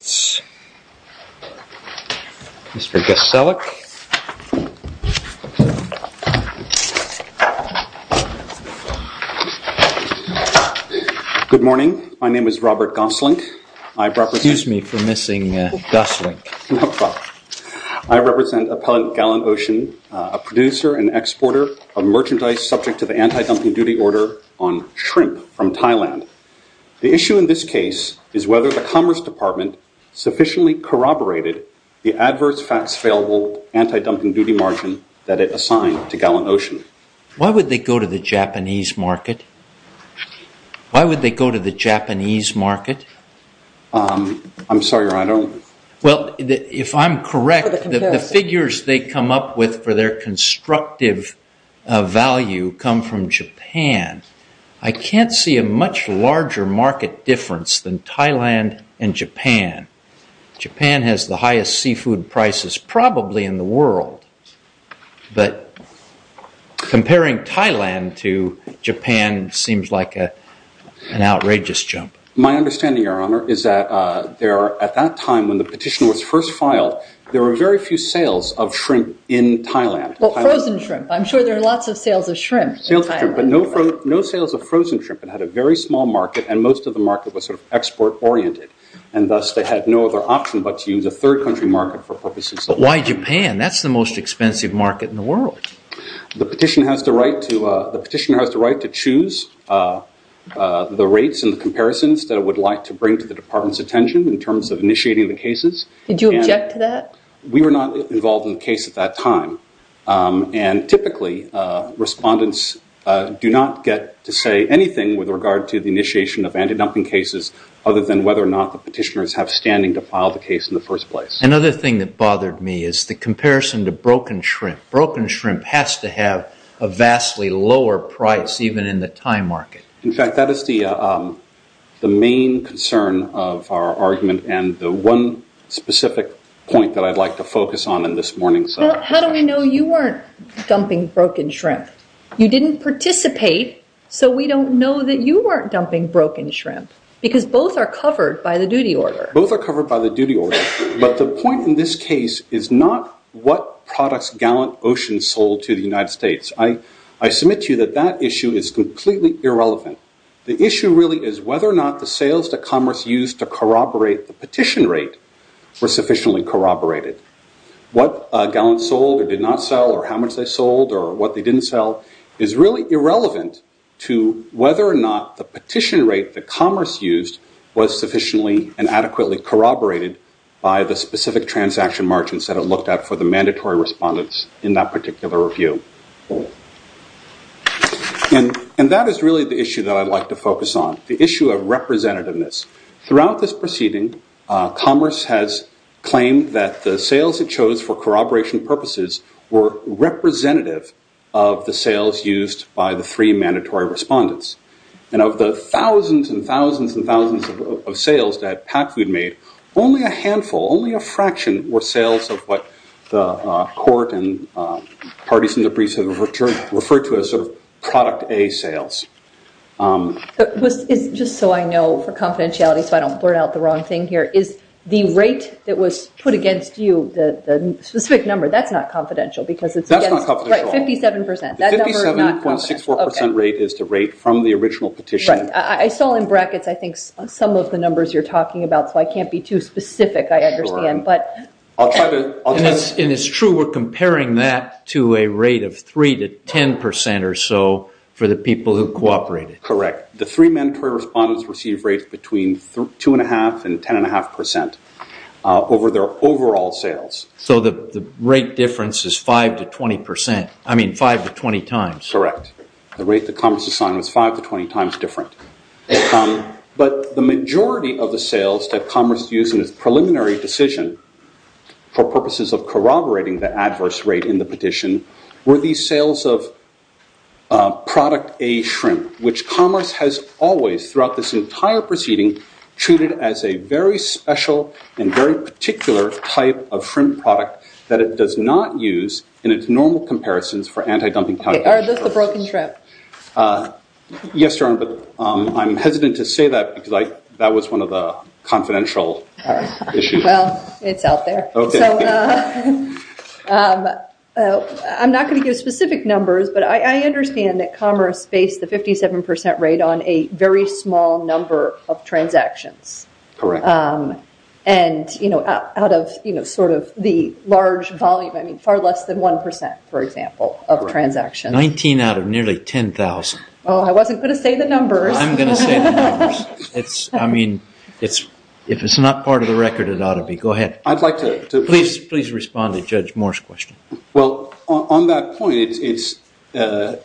Good morning, my name is Robert Goslink. I represent Appellant Gallant Ocean, a producer and exporter of merchandise subject to the anti-dumping duty order on shrimp from Thailand. The issue in this case is whether the Commerce Department sufficiently corroborated the adverse facts failable anti-dumping duty margin that it assigned to Gallant Ocean. Why would they go to the Japanese market? Why would they go to the Japanese market? I'm sorry, I don't. Well, if I'm correct, the figures they come up with for their constructive value come from Japan. I can't see a much larger market difference than Thailand and Japan. Japan has the highest seafood prices probably in the world, but comparing Thailand to Japan seems like an outrageous jump. My understanding, Your Honor, is that there are, at that time when the petition was first filed, there were very few sales of shrimp in Thailand. Well, frozen shrimp. I'm sure there are lots of most of the market was sort of export oriented, and thus they had no other option but to use a third country market for purposes of- But why Japan? That's the most expensive market in the world. The petitioner has the right to choose the rates and the comparisons that it would like to bring to the department's attention in terms of initiating the cases. Did you object to that? We were not involved in the case at that time, and typically respondents do not get to say anything with regard to the initiation of anti-dumping cases other than whether or not the petitioners have standing to file the case in the first place. Another thing that bothered me is the comparison to broken shrimp. Broken shrimp has to have a vastly lower price even in the Thai market. In fact, that is the main concern of our argument and the one specific point that I'd like to focus on in this morning's- How do we know you weren't dumping broken shrimp? You didn't participate, so we don't know that you weren't dumping broken shrimp because both are covered by the duty order. Both are covered by the duty order, but the point in this case is not what products Gallant Ocean sold to the United States. I submit to you that that issue is completely irrelevant. The issue really is whether or not the sales that Commerce used to corroborate the petition rate were sufficiently corroborated. What Gallant sold or did not sell, or how much they didn't sell, is really irrelevant to whether or not the petition rate that Commerce used was sufficiently and adequately corroborated by the specific transaction margins that it looked at for the mandatory respondents in that particular review. That is really the issue that I'd like to focus on, the issue of representativeness. Throughout this proceeding, Commerce has claimed that the sales it chose for corroboration purposes were representative of the sales used by the three mandatory respondents. Of the thousands and thousands and thousands of sales that PacFood made, only a handful, only a fraction, were sales of what the court and parties in the briefs have referred to as product A sales. Just so I know for confidentiality, so I don't blurt out the wrong thing here, is the rate that was put against you, the specific number, that's not confidential. That's not confidential. Right, 57%. The 57.64% rate is the rate from the original petition. I saw in brackets, I think, some of the numbers you're talking about, so I can't be too specific, I understand. It's true, we're comparing that to a rate of 3% to 10% or so for the people who cooperated. Correct. The three mandatory respondents received rates between 2.5% and 10.5% over their overall sales. So the rate difference is 5% to 20%, I mean 5% to 20% times. Correct. The rate that Commerce assigned was 5% to 20% times different. But the majority of the sales that Commerce used in its preliminary decision for purposes of corroborating the shrimp, which Commerce has always, throughout this entire proceeding, treated as a very special and very particular type of shrimp product that it does not use in its normal comparisons for anti-dumping countermeasures. Are those the broken shrimp? Yes, Your Honor, but I'm hesitant to say that because that was one of the confidential issues. Well, it's out there. I'm not going to say the specific numbers, but I understand that Commerce based the 57% rate on a very small number of transactions. Correct. And out of sort of the large volume, I mean far less than 1%, for example, of transactions. 19 out of nearly 10,000. Oh, I wasn't going to say the numbers. I'm going to say the numbers. I mean, if it's not part of the record, it ought to be. Go ahead. I'd like to... Please respond to me. A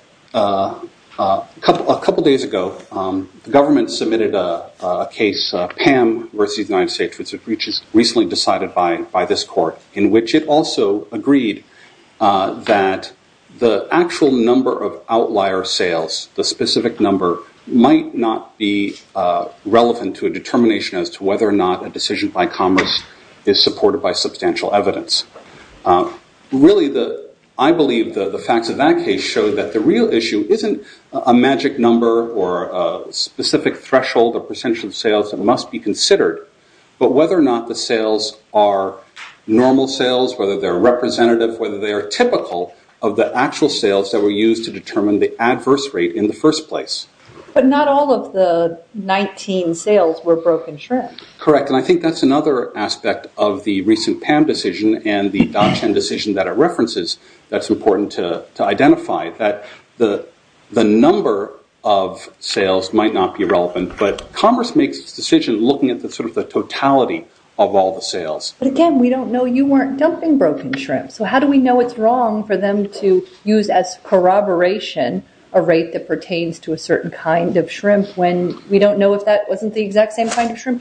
couple days ago, the government submitted a case, PAM versus the United States, which was recently decided by this court, in which it also agreed that the actual number of outlier sales, the specific number, might not be relevant to a determination as to whether or not a decision by the government has substantial evidence. Really, I believe the facts of that case show that the real issue isn't a magic number or a specific threshold or percentage of sales that must be considered, but whether or not the sales are normal sales, whether they're representative, whether they are typical of the actual sales that were used to determine the adverse rate in the first place. But not all of the 19 sales were broken shrimp. Correct. And I think that's another aspect of the recent PAM decision and the dot-10 decision that it references that's important to identify, that the number of sales might not be relevant, but Congress makes this decision looking at the totality of all the sales. But again, we don't know. You weren't dumping broken shrimp. So how do we know it's wrong for them to use as corroboration a rate that pertains to a exact same kind of shrimp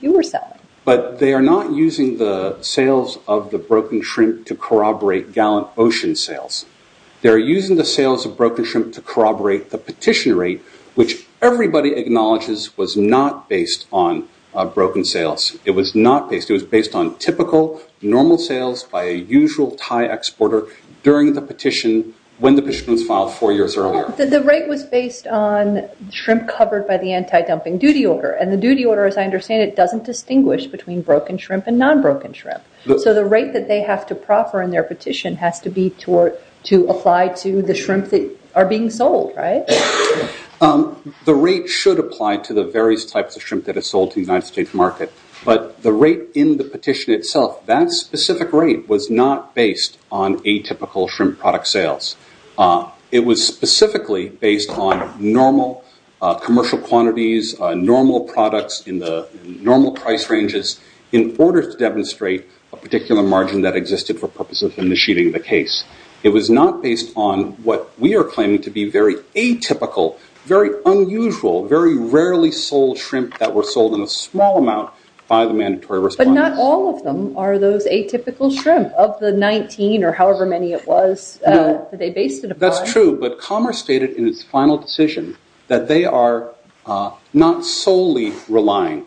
you were selling? But they are not using the sales of the broken shrimp to corroborate gallant ocean sales. They're using the sales of broken shrimp to corroborate the petition rate, which everybody acknowledges was not based on broken sales. It was not based. It was based on typical, normal sales by a usual Thai exporter during the petition, when the petition was filed four years earlier. The rate was based on shrimp covered by the anti-dumping duty order. And the duty order, as I understand it, doesn't distinguish between broken shrimp and non-broken shrimp. So the rate that they have to proffer in their petition has to be to apply to the shrimp that are being sold, right? The rate should apply to the various types of shrimp that are sold to the United States market. But the rate in the petition itself, that specific rate was not based on atypical shrimp product sales. It was specifically based on normal commercial quantities, normal products in the normal price ranges in order to demonstrate a particular margin that existed for purposes in the sheeting of the case. It was not based on what we are claiming to be very atypical, very unusual, very rarely sold shrimp that were sold in a small amount by the mandatory response. But not all of them are those atypical shrimp of the 19 or however many it was that they based it upon. That's true. But Commerce stated in its final decision that they are not solely relying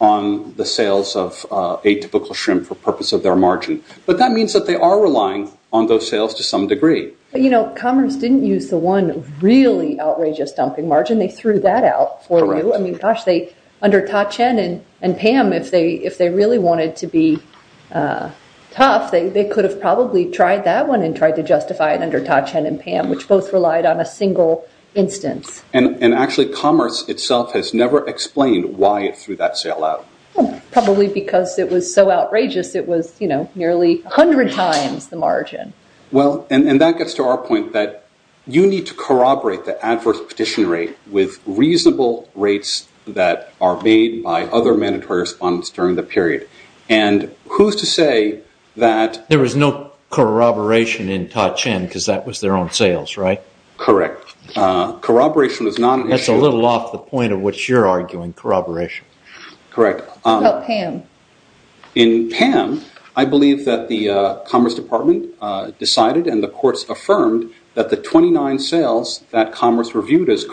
on the sales of atypical shrimp for purpose of their margin. But that means that they are relying on those sales to some degree. You know, Commerce didn't use the one really outrageous dumping margin. They threw that out for you. I mean, gosh, under Ta-Cheng and Pam, if they really wanted to be tough, they could have probably tried that one and tried to justify it under Ta-Cheng and Pam, which both relied on a single instance. And actually Commerce itself has never explained why it threw that sale out. Probably because it was so outrageous it was, you know, nearly 100 times the margin. Well, and that gets to our point that you need to corroborate the adverse petition rate with reasonable rates that are made by other mandatory response during the period. And who's to say that... There was no corroboration in Ta-Cheng because that was their own sales, right? Correct. Corroboration is not an issue... That's a little off the point of what you're arguing, corroboration. Correct. How about Pam? In Pam, I believe that the Commerce Department decided and the courts affirmed that the 29 sales that Commerce reviewed as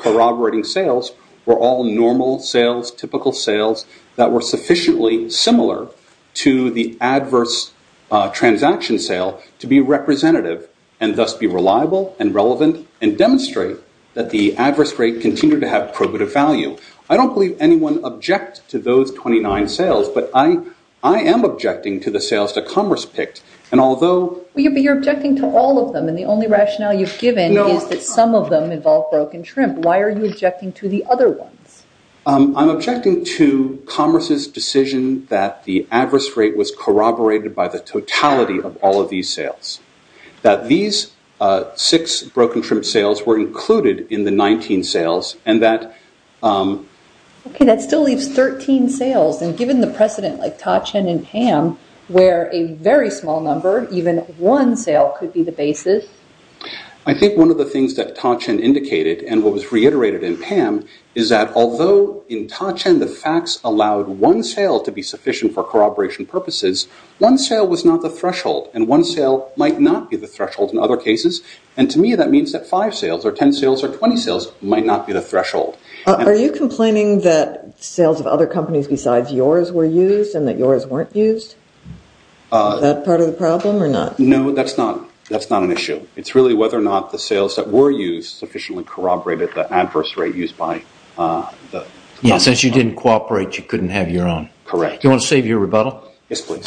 transaction sale to be representative and thus be reliable and relevant and demonstrate that the adverse rate continued to have probative value. I don't believe anyone object to those 29 sales, but I am objecting to the sales that Commerce picked. And although... But you're objecting to all of them and the only rationale you've given is that some of them involve broken shrimp. Why are you objecting to the other ones? I'm objecting to Commerce's decision that the adverse rate was corroborated by the totality of all of these sales. That these six broken shrimp sales were included in the 19 sales and that... Okay, that still leaves 13 sales and given the precedent like Ta-Cheng and Pam, where a very small number, even one sale could be the basis. I think one of the things that Ta-Cheng indicated and what was reiterated in Pam is that although in Ta-Cheng the facts allowed one sale to be sufficient for corroboration purposes, one sale was not the threshold and one sale might not be the threshold in other cases. And to me, that means that five sales or 10 sales or 20 sales might not be the threshold. Are you complaining that sales of other companies besides yours were used and that yours weren't used? Is that part of the problem or not? No, that's not an issue. It's really whether or not the sales that were used sufficiently corroborated the adverse rate used by the... Yes, since you didn't cooperate, you couldn't have your own. Correct. Do you want to save your rebuttal? Yes, please.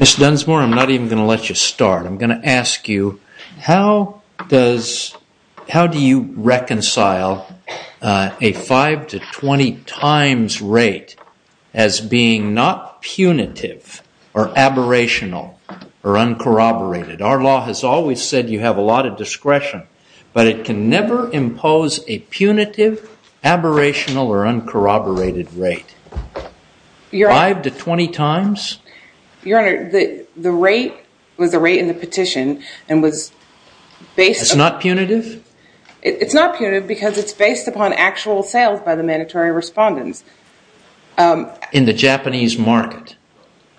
Ms. Dunsmore, I'm not even going to let you start. I'm going to ask you, how do you reconcile a 5 to 20 times rate as being not punitive or aberrational or uncorroborated? Our law has always said you have a lot of discretion, but it can never impose a punitive, aberrational, or uncorroborated rate. 5 to 20 times? Your Honor, the rate was the rate in the petition and was based... It's not punitive? It's not punitive because it's based upon actual sales by the mandatory respondents. In the Japanese market?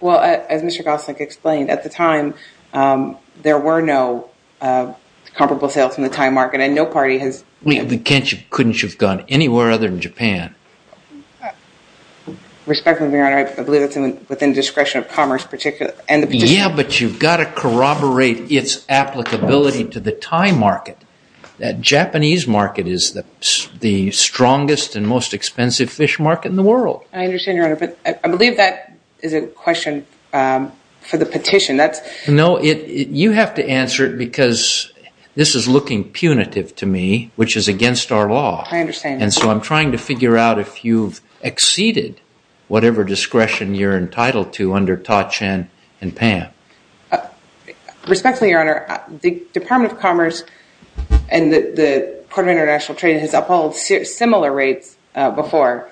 Well, as Mr. Gosling explained, at the time, there were no comparable sales from the Thai market and no party has... Couldn't you have gone anywhere other than Japan? Respectfully, Your Honor, I believe that's within the discretion of commerce and the petition. Yeah, but you've got to corroborate its applicability to the Thai market. The Japanese market is the strongest and most expensive fish market in the world. I understand, Your Honor, but I believe that is a question for the petition. No, you have to answer it because this is looking punitive to me, which is against our law. I understand. And so I'm trying to figure out if you've exceeded whatever discretion you're entitled to under Ta-Cheng and PAM. Respectfully, Your Honor, the Department of Commerce and the Department of International Trade has upheld similar rates before.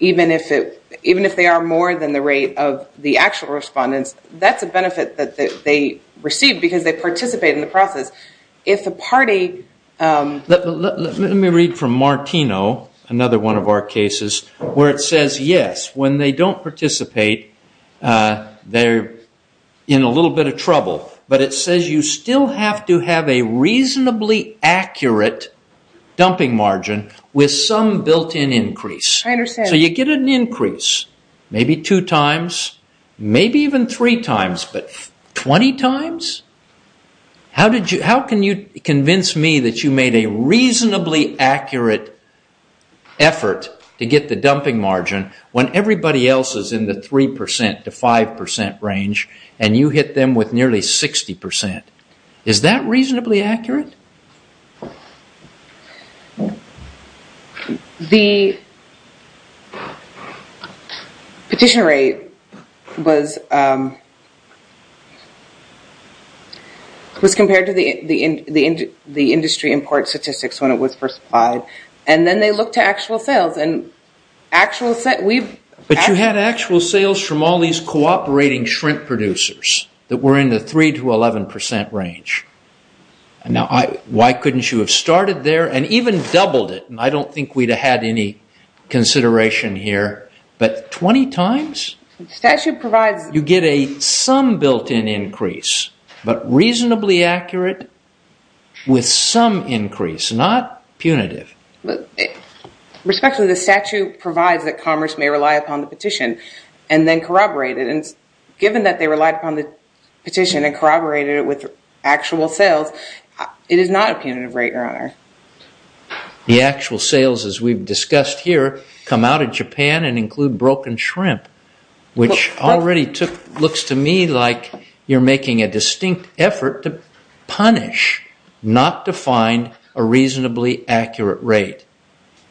Even if they are more than the rate of the actual respondents, that's a benefit that they receive because they participate in the process. If the party... Let me read from Martino, another one of our cases, where it says, yes, when they don't participate, they're in a little bit of trouble, but it says you still have to have a reasonably accurate dumping margin with some built-in increase. I understand. So you get an increase, maybe two times, maybe even three times, but 20 times? How can you convince me that you made a reasonably accurate effort to get the dumping margin when everybody else is in the 3% to 5% range and you hit them with nearly 60%? Is that reasonably accurate? The petition rate was compared to the industry import statistics when it was first applied, and then they looked at actual sales. But you had actual sales from all these cooperating shrimp producers that were in the 3% to 11% range. Now, why couldn't you have started there and even doubled it? And I don't think we'd have had any consideration here, but 20 times? You get some built-in increase, but reasonably accurate with some increase, not punitive. Respectfully, the statute provides that commerce may rely upon the petition and then corroborate it. And given that they relied upon the petition and corroborated it with actual sales, it is not a punitive rate, Your Honor. The actual sales, as we've discussed here, come out of Japan and include broken shrimp, which already looks to me like you're making a distinct effort to punish not to find a reasonably accurate rate.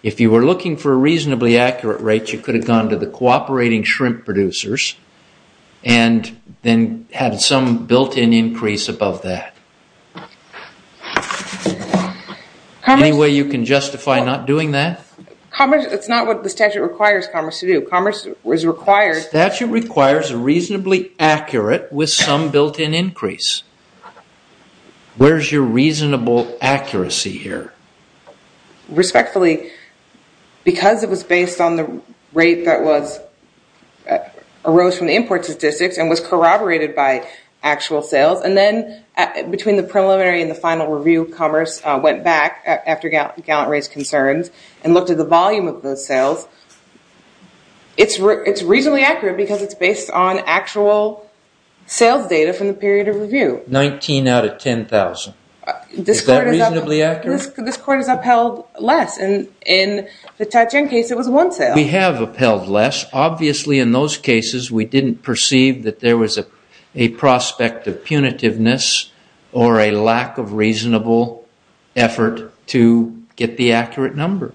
If you were looking for a reasonably accurate rate, you could have gone to the cooperating shrimp producers and then had some built-in increase above that. Any way you can justify not doing that? It's not what the statute requires commerce to do. The statute requires a reasonably accurate with some built-in increase. Where's your reasonable accuracy here? Respectfully, because it was based on the rate that arose from the import statistics and was corroborated by actual sales, and then between the preliminary and the final review, commerce went back after Gallant raised concerns and looked at the volume of those sales. It's reasonably accurate because it's based on actual sales data from the period of review. 19 out of 10,000. Is that reasonably accurate? This Court has upheld less. In the Ta-Cheng case, it was one sale. We have upheld less. Obviously, in those cases, we didn't perceive that there was a prospect of punitiveness or a lack of reasonable effort to get the accurate number.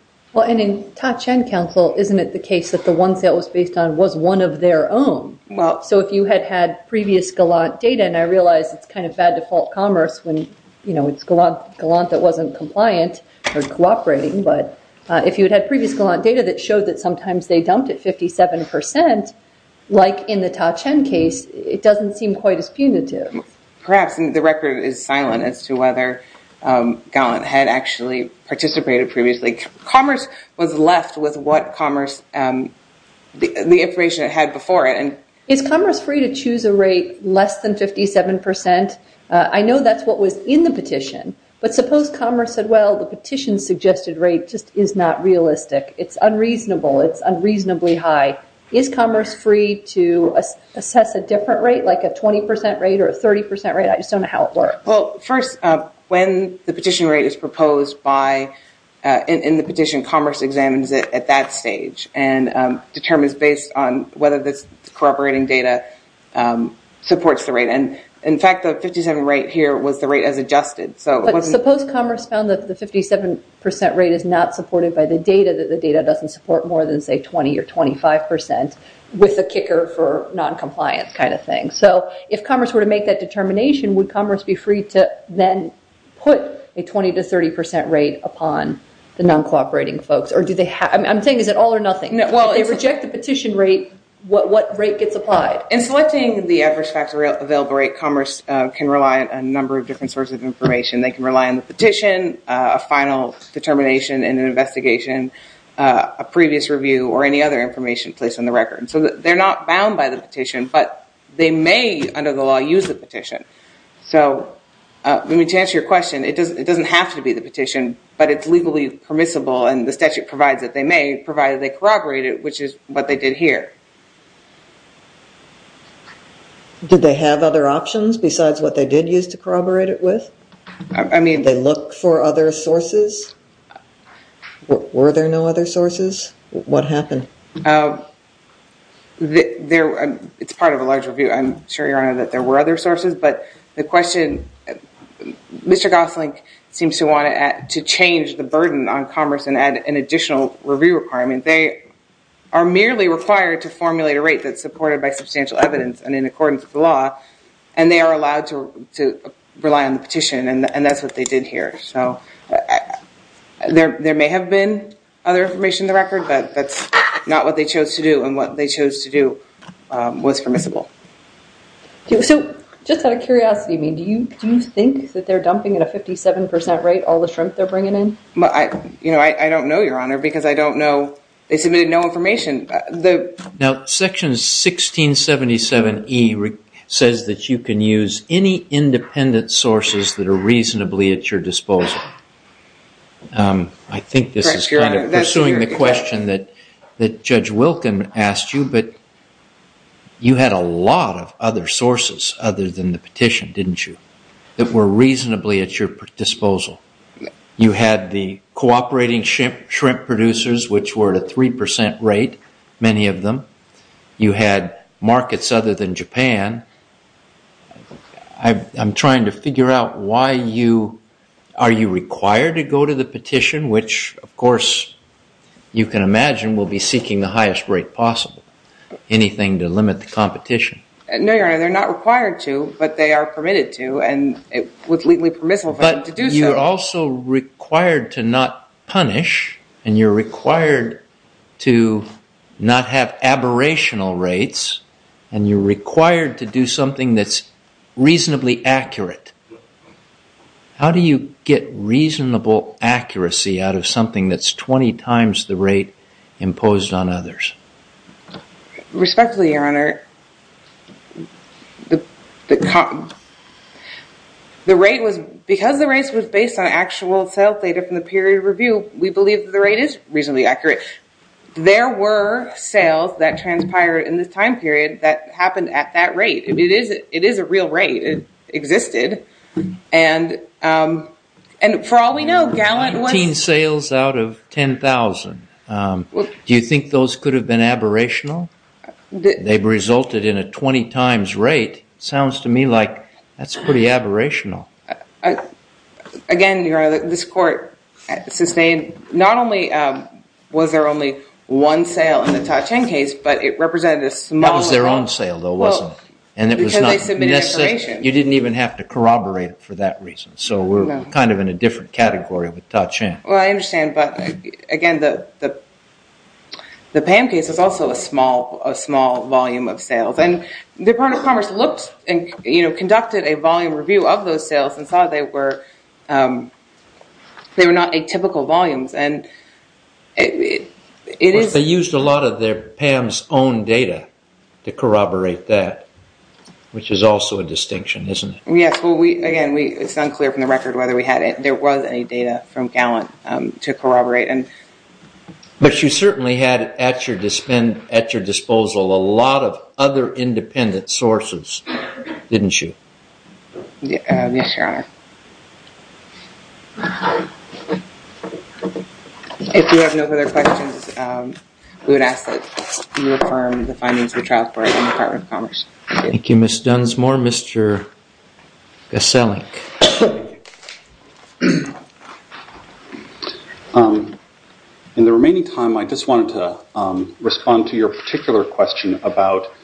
In Ta-Cheng Council, isn't it the case that the one sale was based on was one of their own? If you had had previous Gallant data, and I realize it's bad to fault commerce when it's Gallant that wasn't compliant or cooperating, but if you had had previous Gallant data that showed that sometimes they dumped at 57%, like in the Ta-Cheng case, it doesn't seem quite as punitive. Perhaps the record is silent as to whether Gallant had actually participated previously. Commerce was left with the information it had before it. Is commerce free to choose a rate less than 57%? I know that's what was in the petition. But suppose commerce said, well, the petition suggested rate just is not realistic. It's unreasonable. It's unreasonably high. Is commerce free to assess a different rate, like a 20% rate or a 30% rate? I just don't know how it works. First, when the petition rate is proposed in the petition, commerce examines it at that stage and determines based on whether this cooperating data supports the rate. In fact, the 57 rate here was the rate as adjusted. But suppose commerce found that the 57% rate is not supported by the data, that the data doesn't support more than, say, 20% or 25%, with a kicker for noncompliance kind of thing. So if commerce were to make that determination, would commerce be free to then put a 20% to 30% rate upon the non-cooperating folks? I'm saying, is it all or nothing? If they reject the petition rate, what rate gets applied? In selecting the adverse factor available rate, commerce can rely on a number of different sorts of information. They can rely on the petition, a final determination in an investigation, a previous review, or any other information placed on the record. So they're not bound by the petition, but they may, under the law, use the petition. So to answer your question, it doesn't have to be the petition, but it's legally permissible and the statute provides that they may, provided they corroborate it, which is what they did here. Did they have other options besides what they did use to corroborate it with? I mean, did they look for other sources? Were there no other sources? What happened? It's part of a large review. I'm sure, Your Honor, that there were other sources, but the question, Mr. Gosling seems to want to change the burden on commerce and add an additional review requirement. They are merely required to formulate a rate that's supported by substantial evidence and in accordance with the law, and they are allowed to rely on the petition, and that's what they did here. So there may have been other information in the record, but that's not what they chose to do, and what they chose to do was permissible. So just out of curiosity, do you think that they're dumping at a 57% rate all the shrimp they're bringing in? I don't know, Your Honor, because I don't know. They submitted no information. Now, Section 1677E says that you can use any independent sources that are reasonably at your disposal. I think this is kind of pursuing the question that Judge Wilken asked you, but you had a lot of other sources other than the petition, didn't you, that were reasonably at your disposal. You had the cooperating shrimp producers, which were at a 3% rate, many of them. You had markets other than Japan. I'm trying to figure out why you... Are you required to go to the petition, which, of course, you can imagine will be seeking the highest rate possible, anything to limit the competition? No, Your Honor, they're not required to, but they are permitted to, and it was legally permissible for them to do so. But you're also required to not punish, and you're required to not have aberrational rates, and you're required to do something that's reasonably accurate. How do you get reasonable accuracy out of something that's 20 times the rate imposed on others? Respectfully, Your Honor, the rate was... Because the rate was based on actual sales data from the period of review, we believe that the rate is reasonably accurate. There were sales that transpired in this time period that happened at that rate. It is a real rate. It existed. And for all we know, Gallant was... 19 sales out of 10,000. Do you think those could have been aberrational? They resulted in a 20 times rate. Sounds to me like that's pretty aberrational. Again, Your Honor, this court sustained... Not only was there only one sale in the Ta-Cheng case, but it represented a small... That was their own sale, though, wasn't it? Because they submitted information. You didn't even have to corroborate it for that reason, so we're kind of in a different category with Ta-Cheng. Well, I understand, but again, the Pan case was also a small volume of sales. The Department of Commerce looked and conducted a volume review of those sales and saw they were not atypical volumes, and it is... But they used a lot of their... Pam's own data to corroborate that, which is also a distinction, isn't it? Yes, well, again, it's unclear from the record whether there was any data from Gallant to corroborate. But you certainly had at your disposal a lot of other independent sources, didn't you? Yes, Your Honor. If you have no further questions, we would ask that you affirm the findings of the trial report from the Department of Commerce. Thank you, Ms. Dunsmore. Mr. Gaselink. In the remaining time, I just wanted to respond to your particular question about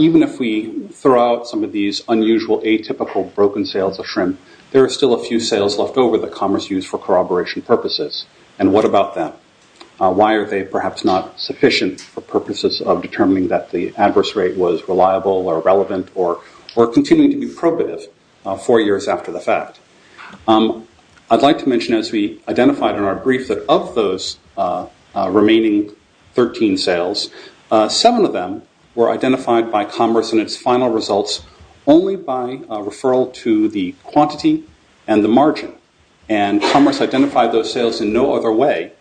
even if we throw out some of these unusual, atypical, broken sales of shrimp, there are still a few sales left over that Commerce used for corroboration purposes. And what about them? Why are they perhaps not sufficient for purposes of determining that the adverse rate was reliable or relevant or continuing to be probative four years after the fact? I'd like to mention, as we identified in our brief, that of those remaining 13 sales, seven of them were identified by Commerce in its final results only by referral to the quantity and the margin. And Commerce identified those sales in no other way.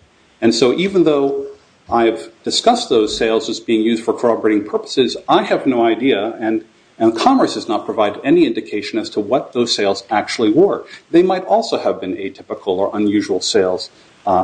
And so even though I have discussed those sales as being used for corroborating purposes, I have no idea, and Commerce does not provide any indication as to what those sales actually were. They might also have been atypical or unusual sales,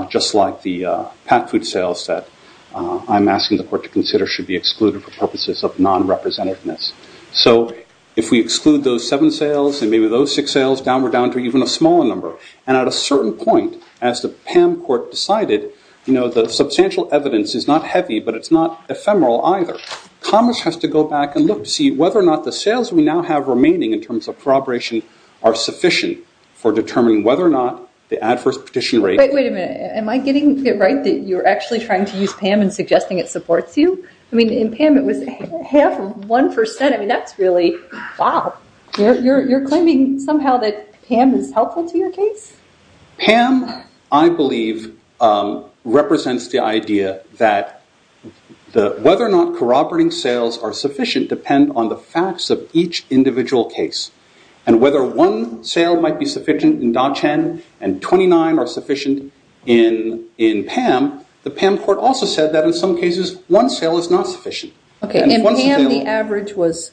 just like the packed food sales that I'm asking the Court to consider should be excluded for purposes of non-representativeness. So if we exclude those seven sales and maybe those six sales, down we're down to even a smaller number. And at a certain point, as the PAM Court decided, the substantial evidence is not heavy, but it's not ephemeral either. Commerce has to go back and look to see whether or not the sales we now have remaining in terms of corroboration are sufficient for determining whether or not the adverse petition rate... Wait a minute, am I getting it right that you're actually trying to use PAM and suggesting it supports you? I mean, in PAM it was half of one percent. I mean, that's really, wow. You're claiming somehow that PAM is helpful to your case? PAM, I believe, represents the idea that whether or not corroborating sales are sufficient depend on the facts of each individual case. And whether one sale might be sufficient in Da Qian and 29 are sufficient in PAM, the PAM Court also said that in some cases one sale is not sufficient. Okay, in PAM the average was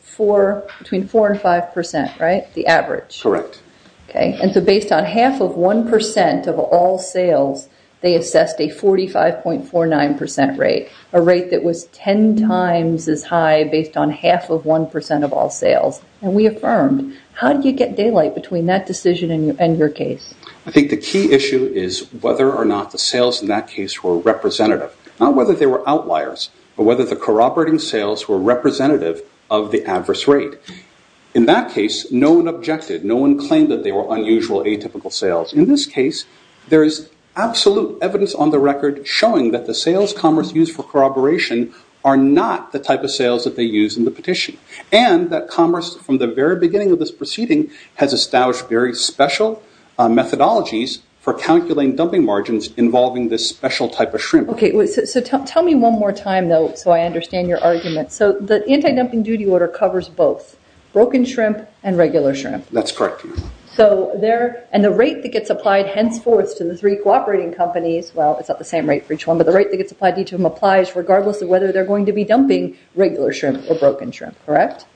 between 4 and 5 percent, right? The average? Correct. Okay, and so based on half of one percent of all sales, they assessed a 45.49 percent rate, a rate that was ten times as high based on half of one percent of all sales. And we affirmed. How did you get daylight between that decision and your case? I think the key issue is whether or not the sales in that case were representative. Not whether they were outliers, but whether the corroborating sales were representative of the adverse rate. In that case, no one objected. No one claimed that they were unusual, atypical sales. In this case, there is absolute evidence on the record showing that the sales Commerce used for corroboration are not the type of sales that they used in the petition. And that Commerce, from the very beginning of this proceeding, has established very special methodologies for calculating dumping margins involving this special type of shrimp. Okay, so tell me one more time, though, so I understand your argument. So the anti-dumping duty order covers both broken shrimp and regular shrimp. That's correct. And the rate that gets applied henceforth to the three cooperating companies, well, it's not the same rate for each one, but the rate that gets applied to each of them applies regardless of whether they're going to be dumping regular shrimp or broken shrimp, correct?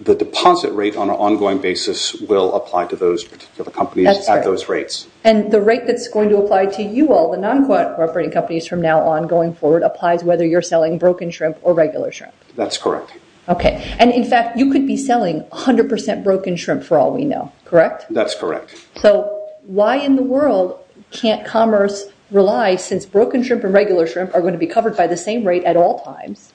The deposit rate on an ongoing basis will apply to those particular companies at those rates. And the rate that's going to apply to you all, the non-corroborating companies from now on going forward, applies whether you're selling broken shrimp or regular shrimp? That's correct. Okay, and in fact, you could be selling 100% broken shrimp for all we know, correct? That's correct. So why in the world can't Commerce rely since broken shrimp and regular shrimp are going to be covered by the same rate at all times,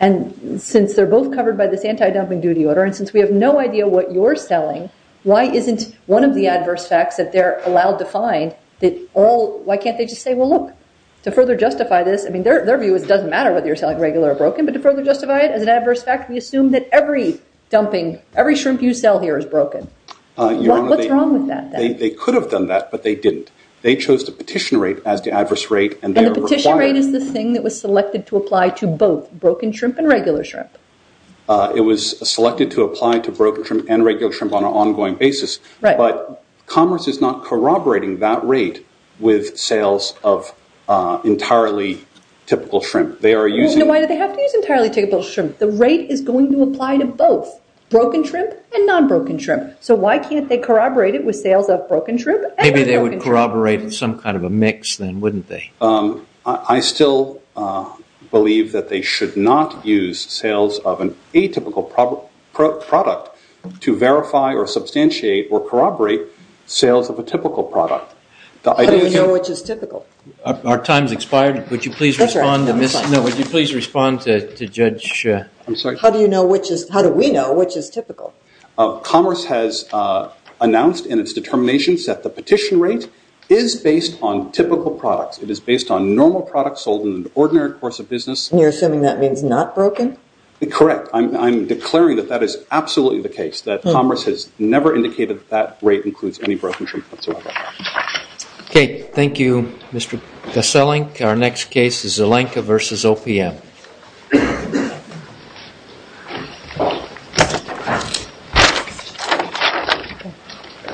and since they're both covered by this anti-dumping duty order, and since we have no idea what you're selling, why isn't one of the adverse facts that they're allowed to find that all, why can't they just say, well, look, to further justify this, I mean, their view is it doesn't matter whether you're selling regular or broken, but to further justify it as an adverse fact, we assume that every dumping, every shrimp you sell here is broken. What's wrong with that? They could have done that, but they didn't. They chose the petition rate as the adverse rate, and the petition rate is the thing that was selected to apply to both broken shrimp and regular shrimp. It was selected to apply to broken shrimp and regular shrimp on an ongoing basis, but Commerce is not corroborating that rate with sales of entirely typical shrimp. They are using... Why do they have to use entirely typical shrimp? The rate is going to apply to both broken shrimp and non-broken shrimp, Maybe they would corroborate some kind of a mix then, wouldn't they? I still believe that they should not use sales of an atypical product to verify or substantiate or corroborate sales of a typical product. How do we know which is typical? Our time has expired. Would you please respond to Judge... I'm sorry? How do we know which is typical? Commerce has announced in its determination that the petition rate is based on typical products. It is based on normal products sold in an ordinary course of business. And you're assuming that means not broken? Correct. I'm declaring that that is absolutely the case, that Commerce has never indicated that that rate includes any broken shrimp whatsoever. Okay. Thank you, Mr. Koselink. Our next case is Zelenka v. OPM. Thank you.